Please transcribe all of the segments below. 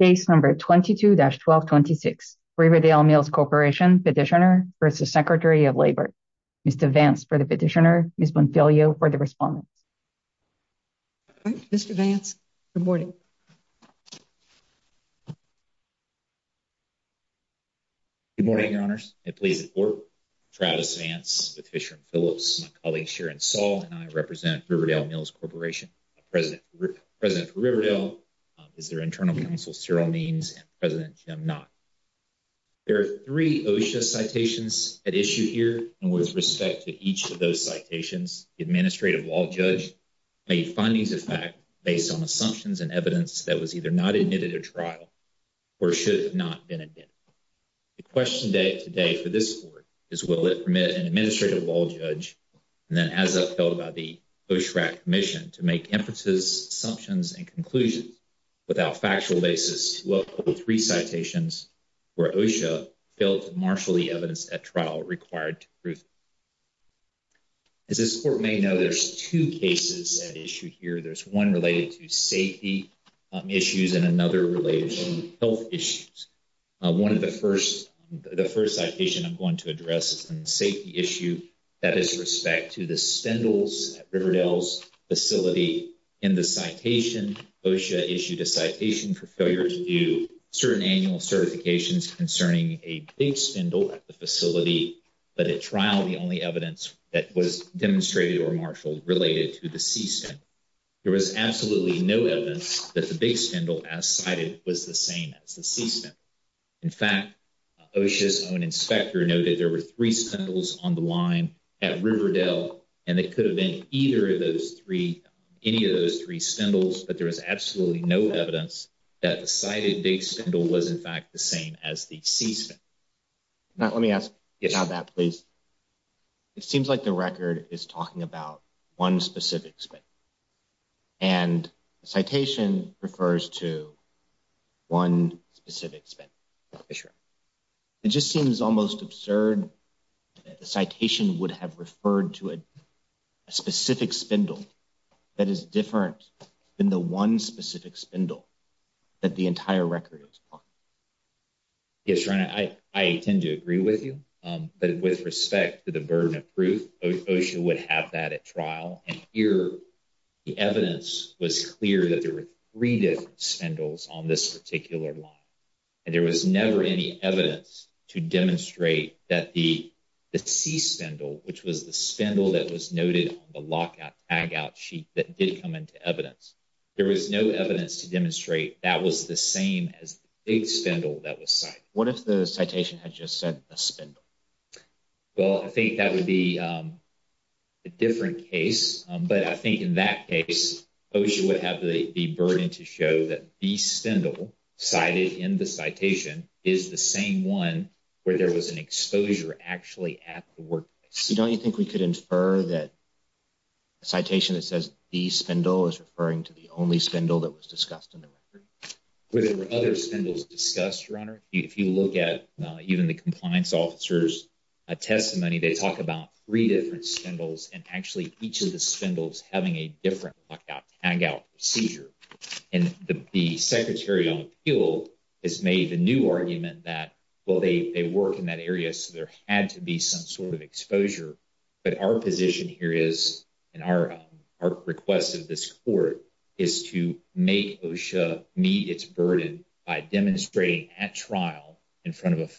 case number 22-1226 Riverdale Mills Corporation petitioner versus Secretary of Labor. Mr. Vance for the petitioner, Ms. Bonfiglio for the respondent. Mr. Vance, good morning. Good morning, your honors. I please support Travis Vance with Fisher & Phillips. My colleague Sharon Saul and I represent Riverdale Mills Corporation. The president for Riverdale is their internal counsel, Cyril Means, and President Jim Knott. There are three OSHA citations at issue here, and with respect to each of those citations, the Administrative Law Judge made findings of fact based on assumptions and evidence that was either not admitted at trial or should have not been admitted. The question today for this court is will it permit an Administrative Law Judge, and then as upheld by the OSHRAC Commission, to make emphases, assumptions, and conclusions without factual basis to uphold three citations where OSHA failed to marshal the evidence at trial required to prove. As this court may know, there's two cases at issue here. There's one related to safety issues and another related to health issues. One of the first, the first citation I'm going to address is a safety issue that is respect to the spindles at Riverdale's facility. In the citation for failure to do certain annual certifications concerning a big spindle at the facility, but at trial the only evidence that was demonstrated or marshaled related to the C spindle. There was absolutely no evidence that the big spindle as cited was the same as the C spindle. In fact, OSHA's own inspector noted there were three spindles on the line at Riverdale, and it that the cited big spindle was in fact the same as the C spindle. Now let me ask about that please. It seems like the record is talking about one specific spindle, and the citation refers to one specific spindle. It just seems almost absurd that the citation would have referred to a specific spindle that is different than the one specific spindle that the entire record is on. Yes, Your Honor, I tend to agree with you, but with respect to the burden of proof, OSHA would have that at trial, and here the evidence was clear that there were three different spindles on this particular line, and there was never any evidence to demonstrate that the C spindle, which was the spindle that was noted on the lockout tagout sheet that did come into evidence, there was no evidence to demonstrate that was the same as the big spindle that was cited. What if the citation had just said a spindle? Well, I think that would be a different case, but I think in that case OSHA would have the burden to show that the spindle cited in the work. Don't you think we could infer that a citation that says the spindle is referring to the only spindle that was discussed in the record? Were there other spindles discussed, Your Honor? If you look at even the compliance officer's testimony, they talk about three different spindles and actually each of the spindles having a different lockout tagout procedure, and the Secretary on Appeal has made the new argument that, well, they work in that exposure, but our position here is, and our request of this Court, is to make OSHA meet its burden by demonstrating at trial in front of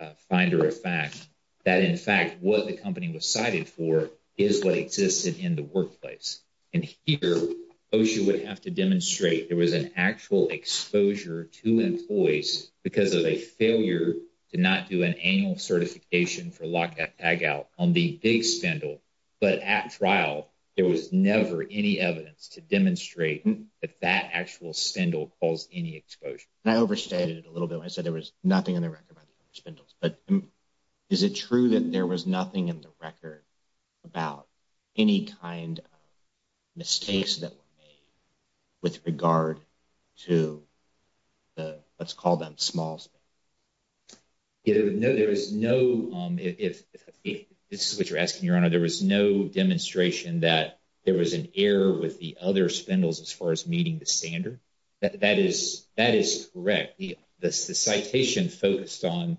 a finder of fact that, in fact, what the company was cited for is what existed in the workplace. And here OSHA would have to demonstrate there was an actual exposure to employees because of a failure to not do an annual certification for lockout tagout on the big spindle, but at trial there was never any evidence to demonstrate that that actual spindle caused any exposure. And I overstated it a little bit when I said there was nothing in the record about the other spindles, but is it true that there was nothing in the record about any kind of mistakes that were made with regard to the, let's call them, small spindle? No, there was no, if this is what you're asking, Your Honor, there was no demonstration that there was an error with the other spindles as far as meeting the standard. That is correct. The citation focused on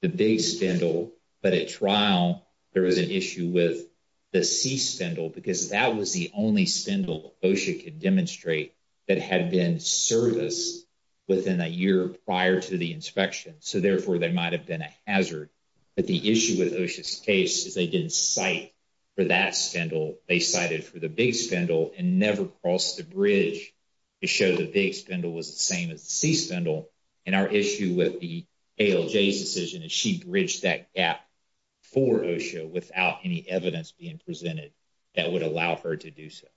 the big spindle, but at trial there was an issue with the C spindle because that was the only spindle OSHA could demonstrate that had been serviced within a year prior to the inspection, so therefore there might have been a hazard. But the issue with OSHA's case is they didn't cite for that spindle, they cited for the big spindle and never crossed the bridge to show the big spindle was the same as the C spindle. And our issue with the ALJ's decision is she bridged that gap for OSHA without any evidence being presented that would allow her to do so.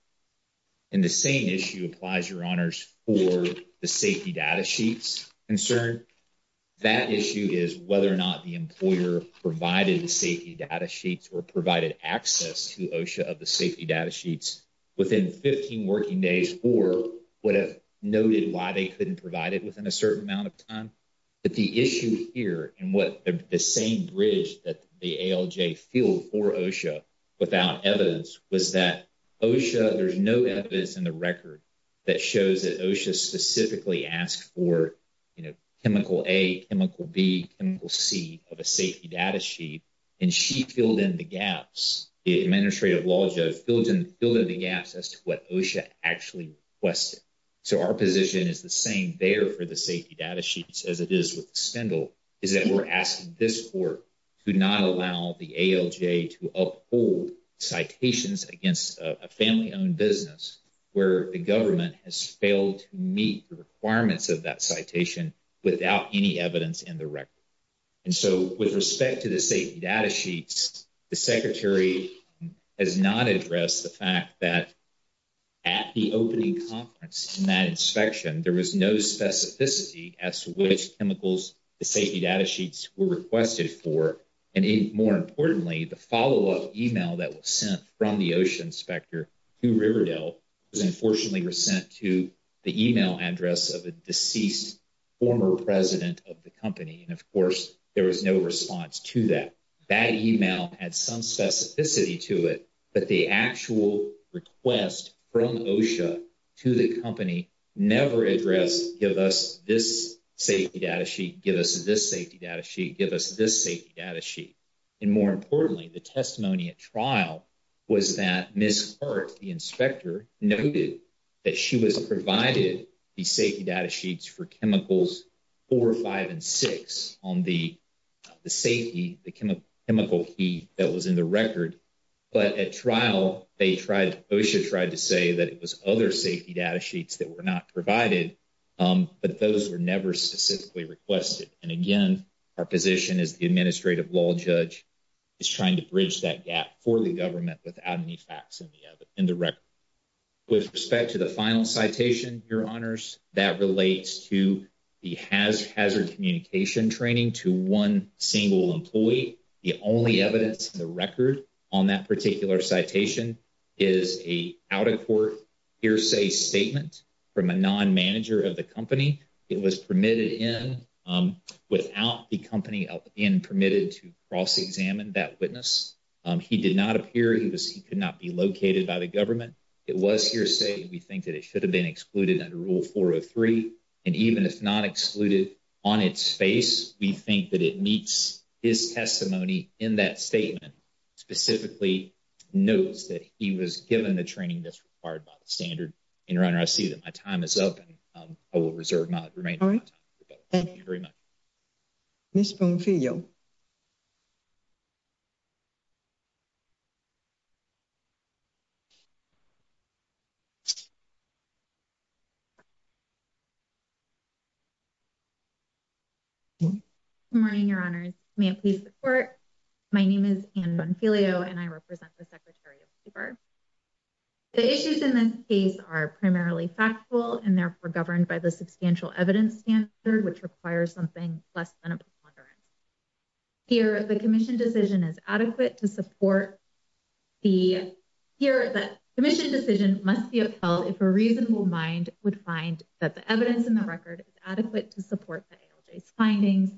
And the same issue applies, Your Honors, for the safety data sheets concern. That issue is whether or not the employer provided the safety data sheets or provided access to OSHA of the safety data sheets within 15 working days or would have noted why they couldn't provide it within a certain amount of time. But the issue here and what the same bridge that the ALJ filled for OSHA without evidence was that OSHA, there's no evidence in the record that shows that OSHA specifically asked for, you know, chemical A, chemical B, chemical C of a safety data sheet and she filled in the gaps. The administrative law judge filled in the gaps as to what OSHA actually requested. So our position is the same there for the safety data sheets as it is with the spindle is that we're asking this court to not allow the ALJ to uphold citations against a family-owned business where the government has failed to meet the requirements of that citation without any evidence in the record. And so with respect to the safety data sheets, the Secretary has not addressed the fact that at the opening conference in that specificity as to which chemicals the safety data sheets were requested for and more importantly the follow-up email that was sent from the OSHA inspector to Riverdale was unfortunately sent to the email address of a deceased former president of the company and of course there was no response to that. That email had some specificity to it but the actual request from OSHA to the company never addressed give us this safety data sheet, give us this safety data sheet, give us this safety data sheet. And more importantly the testimony at trial was that Ms. Hart, the inspector, noted that she was provided the safety data sheets for chemicals four, five, and six on the safety, the chemical key that was in the record. But at trial they tried, OSHA tried to say that it was other safety data sheets that were not provided but those were never specifically requested and again our position as the Administrative Law Judge is trying to bridge that gap for the government without any facts in the record. With respect to the final citation, Your Honors, that relates to the hazard communication training to one single employee. The only evidence in the record on that particular citation is a out-of-court hearsay statement from a non-manager of the company. It was permitted in without the company being permitted to cross-examine that witness. He did not appear, he could not be located by the government. It was hearsay. We think that it should have been excluded under Rule 403 and even if not excluded on its face we think that it meets his testimony in that statement, specifically notes that he was given the training that's required by the standard. Your Honor, I see that my time is up and I will reserve my remaining time. Thank you very much. Ms. Bonfiglio. Good morning, Your Honors. May it please the Court, my name is Anne Bonfiglio and I represent the Secretary of Labor. The issues in this case are primarily factual and therefore governed by substantial evidence standard which requires something less than a preponderance. Here, the Commission decision is adequate to support the, here the Commission decision must be upheld if a reasonable mind would find that the evidence in the record is adequate to support the ALJ's findings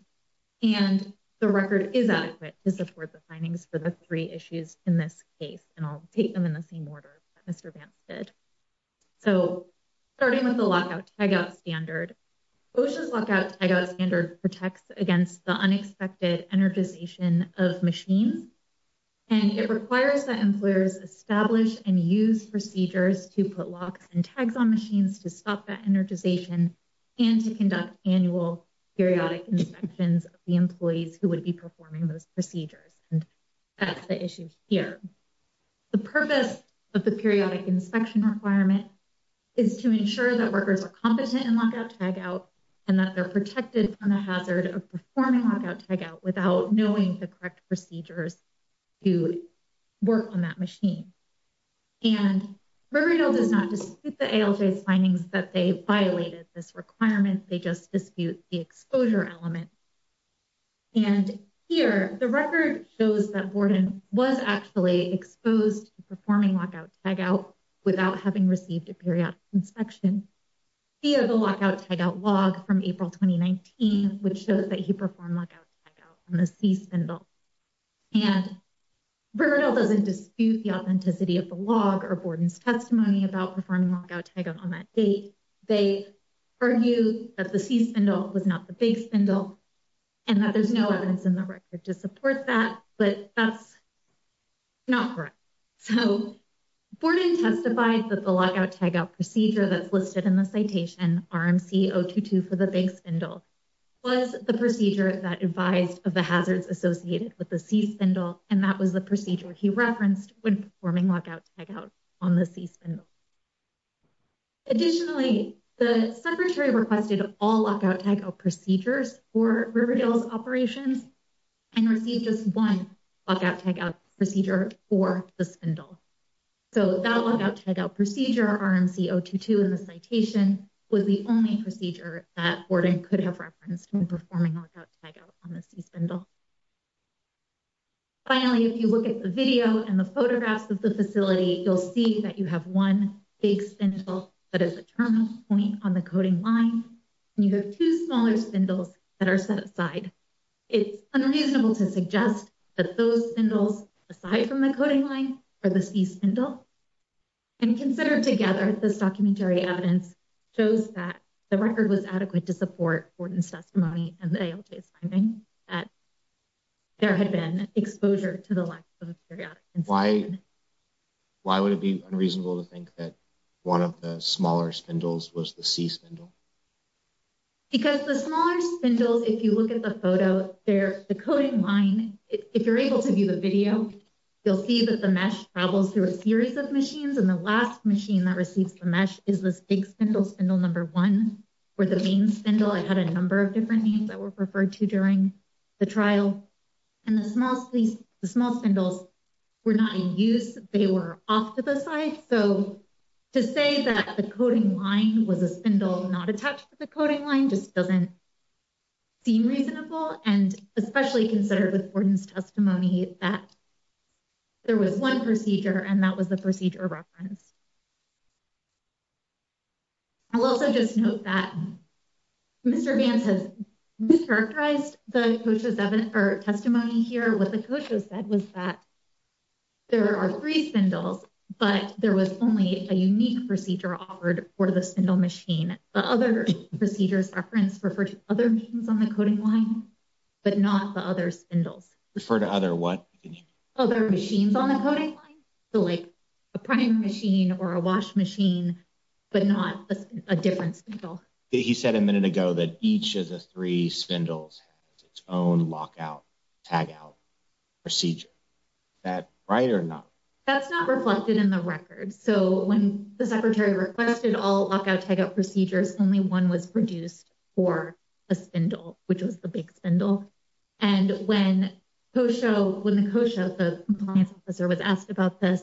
and the record is adequate to support the findings for the three issues in this case and I'll take them in the same order that Mr. Vance did. So, starting with the lockout tagout standard, OSHA's lockout tagout standard protects against the unexpected energization of machines and it requires that employers establish and use procedures to put locks and tags on machines to stop that energization and to conduct annual periodic inspections of the employees who would performing those procedures and that's the issue here. The purpose of the periodic inspection requirement is to ensure that workers are competent in lockout tagout and that they're protected from the hazard of performing lockout tagout without knowing the correct procedures to work on that machine and Riverdale does not dispute the ALJ's findings that they violated this requirement, they just dispute the exposure element and here the record shows that Borden was actually exposed to performing lockout tagout without having received a periodic inspection via the lockout tagout log from April 2019 which shows that he performed lockout tagout on the C spindle and Riverdale doesn't dispute the authenticity of the log or Borden's testimony about performing lockout tagout on that date, they argued that the C spindle was not the big spindle and that there's no evidence in the record to support that but that's not correct. So, Borden testified that the lockout tagout procedure that's listed in the citation RMC-022 for the big spindle was the procedure that advised of the hazards associated with the C spindle and that was the procedure he referenced when performing lockout tagout on the C spindle. Additionally, the secretary requested all lockout tagout procedures for Riverdale's operations and received just one lockout tagout procedure for the spindle. So, that lockout tagout procedure RMC-022 in the citation was the only procedure that Borden could have referenced when performing lockout tagout on the C spindle. Finally, if you look at the video and the photographs of the facility, you'll see that you have one big spindle that is a terminal point on the coding line and you have two smaller spindles that are set aside. It's unreasonable to suggest that those spindles aside from the coding line are the C spindle and considered together, this documentary evidence shows that the record was adequate to support Borden's testimony and the ALJ's finding that there had been exposure to the lack of periodic inspection. Why would it be unreasonable to think that one of the smaller spindles was the C spindle? Because the smaller spindles, if you look at the photo, they're the coding line. If you're able to view the video, you'll see that the mesh travels through a series of machines and the last machine that receives the mesh is this big spindle, spindle number one, or the main spindle. I had a number of different names that were referred to during the trial and the small spindles were not in use. They were off to the side. So, to say that the coding line was a spindle not attached to the coding line just doesn't seem reasonable and especially considered with Borden's testimony that there was one procedure and that was the procedure reference. I'll also just note that Mr. Vance has mischaracterized the COSHA's testimony here. What the COSHA said was that there are three spindles but there was only a unique procedure offered for the spindle machine. The other procedures reference referred to other machines on the coding line but not the other spindles. Refer to other what? Other machines on the coding line. A priming machine or a wash machine but not a different spindle. He said a minute ago that each of the three spindles has its own lockout tagout procedure. Is that right or not? That's not reflected in the record. So, when the secretary requested all lockout tagout procedures, only one was produced for a spindle which was the big spindle and when COSHA, when the COSHA, the compliance officer was asked about this,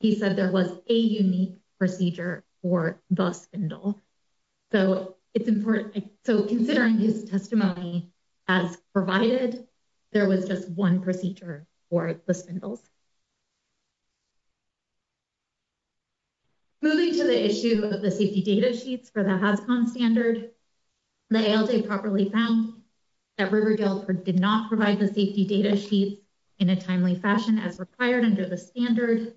he said there was a unique procedure for the spindle. So, it's important. So, considering his testimony as provided, there was just one procedure for the spindles. Moving to the issue of the safety data sheets for the HASCON standard, the ALJ properly found that Riverdale did not provide the safety data sheets in a timely fashion as required under the standard.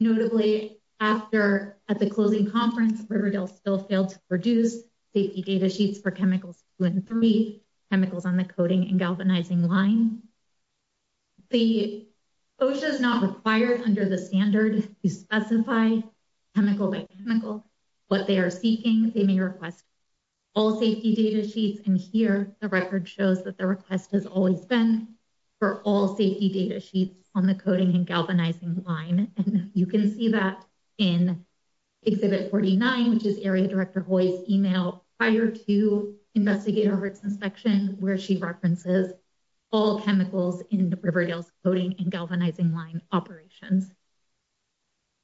Notably, after at the closing conference, Riverdale still failed to produce safety data sheets for chemicals two and three, chemicals on the coding and galvanizing line. The COSHA is not required under the standard to specify chemical by chemical what they are seeking. They may request all safety data and here the record shows that the request has always been for all safety data sheets on the coding and galvanizing line and you can see that in Exhibit 49 which is Area Director Hoy's email prior to Investigator Hertz' inspection where she references all chemicals in Riverdale's coding and galvanizing line operations.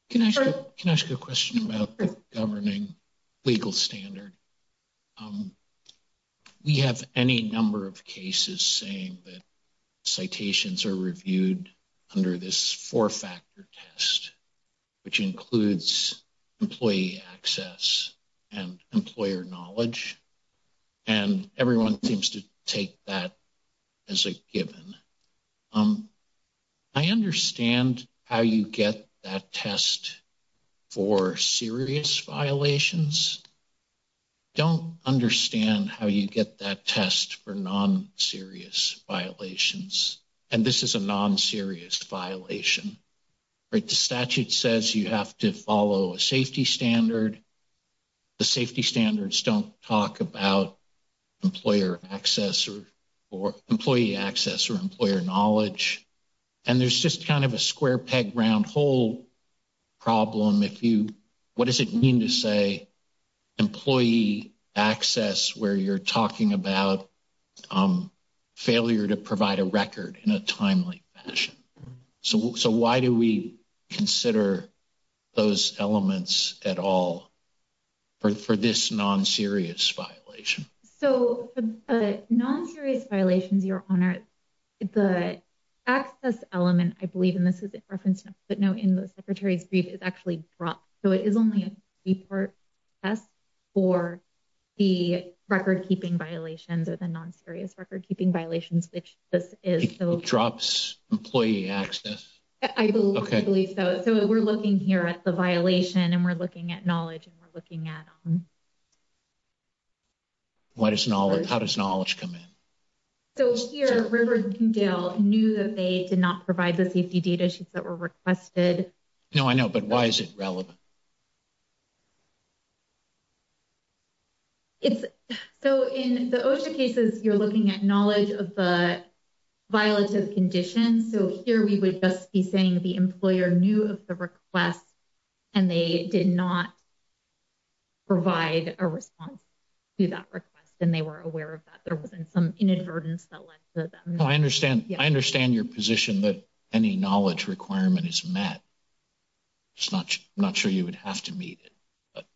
Can I ask a question about the governing legal standard? We have any number of cases saying that citations are reviewed under this four-factor test which includes employee access and employer knowledge and everyone seems to take that as a given. I understand how you get that test for serious violations. I don't understand how you get that test for non-serious violations and this is a non-serious violation. The statute says you have to follow a safety standard. The safety standards don't talk about employee access or employer knowledge and there's just kind of a square peg round hole problem. What does it mean to say employee access where you're talking about failure to provide a record in a timely fashion? So why do we consider those elements at all for this non-serious violation? So for the non-serious violations, Your Honor, the access element I believe and this is in reference to a footnote in the Secretary's brief is actually dropped so it is only a three-part test for the record-keeping violations or the non-serious record-keeping violations which this is. It drops employee access? I believe so. So we're looking here at the violation and we're What is knowledge? How does knowledge come in? So here Riverdale knew that they did not provide the safety data sheets that were requested. No, I know but why is it relevant? It's so in the OSHA cases you're looking at knowledge of the violative conditions so here we would just be saying the employer knew of the request and they did not provide a response to that request and they were aware of that. There wasn't some inadvertence that led to them. I understand your position that any knowledge requirement is met. I'm not sure you would have to meet it.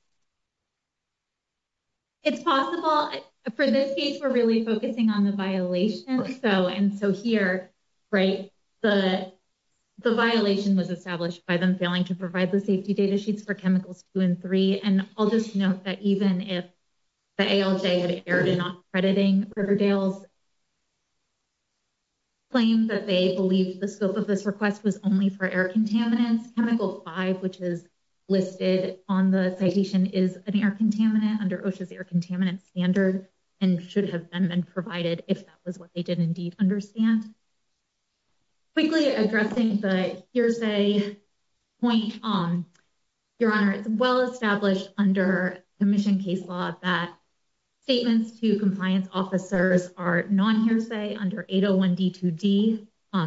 It's possible for this case we're really focusing on the violation so and so here right the violation was established by them failing to provide the safety data sheets for chemicals two and three and I'll just note that even if the ALJ had erred in not crediting Riverdale's claim that they believed the scope of this request was only for air contaminants chemical five which is listed on the citation is an air contaminant under OSHA's air contaminant standard and should have been been provided if that was what they did indeed understand. Quickly addressing the hearsay point your honor it's well established under commission case law that statements to compliance officers are non-hearsay under 801 D2D.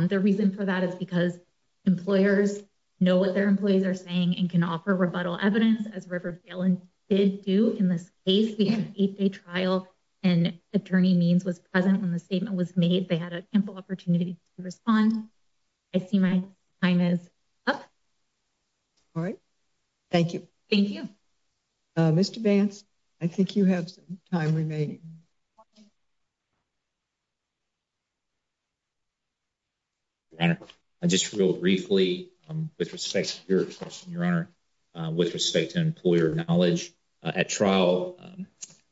The reason for that is because employers know what their employees are saying and can offer rebuttal evidence as Riverdale did do in this case. We had an eight-day trial and attorney means was present when the statement was made. They had a simple opportunity to respond. I see my time is up. All right, thank you. Thank you. Mr. Vance, I think you have some time remaining. Your honor, just real briefly with respect to your question your honor with respect to employer knowledge at trial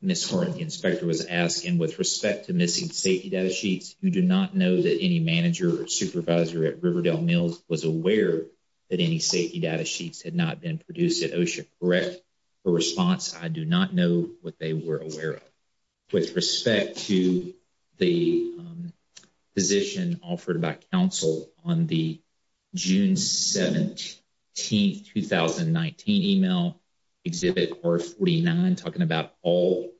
Ms. Horne, the inspector was asked and with respect to missing safety data sheets who do not know that any manager or supervisor at Riverdale Mills was aware that any safety data sheets had not been produced at OSHA correct a response I do not know what they were aware of. With respect to the position offered by counsel on the June 17, 2019 email exhibit R49 talking about all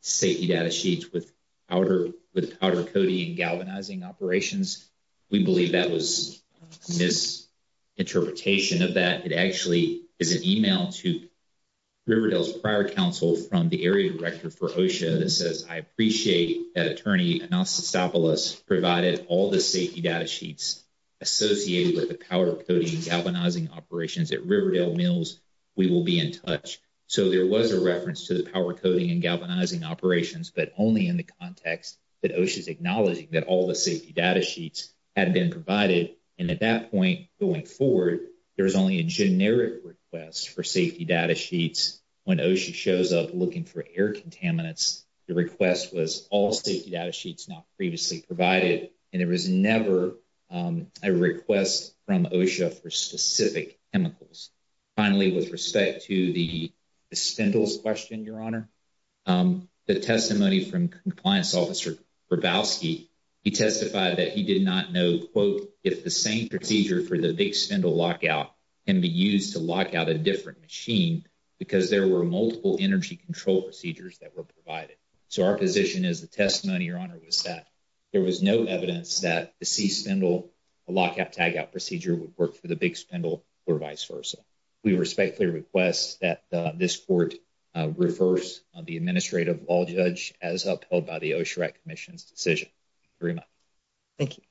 safety data sheets with powder coating and galvanizing operations we believe that was misinterpretation of that. It actually is an email to Riverdale's prior counsel from the area director for OSHA that says I appreciate that attorney Anastasopoulos provided all the safety data sheets associated with the powder coating galvanizing operations at Riverdale Mills we will be in touch. So there was a reference to the power coating and galvanizing operations but only in the context that OSHA is acknowledging that all the safety data sheets had been provided and at that point going forward there was only a generic request for safety data sheets when OSHA shows up looking for air contaminants the request was all safety data sheets not previously provided and there was never a request from OSHA for specific chemicals. Finally with respect to the spindles question your honor the testimony from compliance officer Hrabowski he testified that he did not know quote if the same procedure for the big spindle lockout can be used to lock out a different machine because there were multiple energy control procedures that were provided so our position is the testimony your honor was that there was no evidence that the C spindle lockout tagout procedure would work for the big spindle or vice versa. We respectfully request that this court reverse the administrative law judge as upheld by the OSHA RAC Commission's decision. Thank you.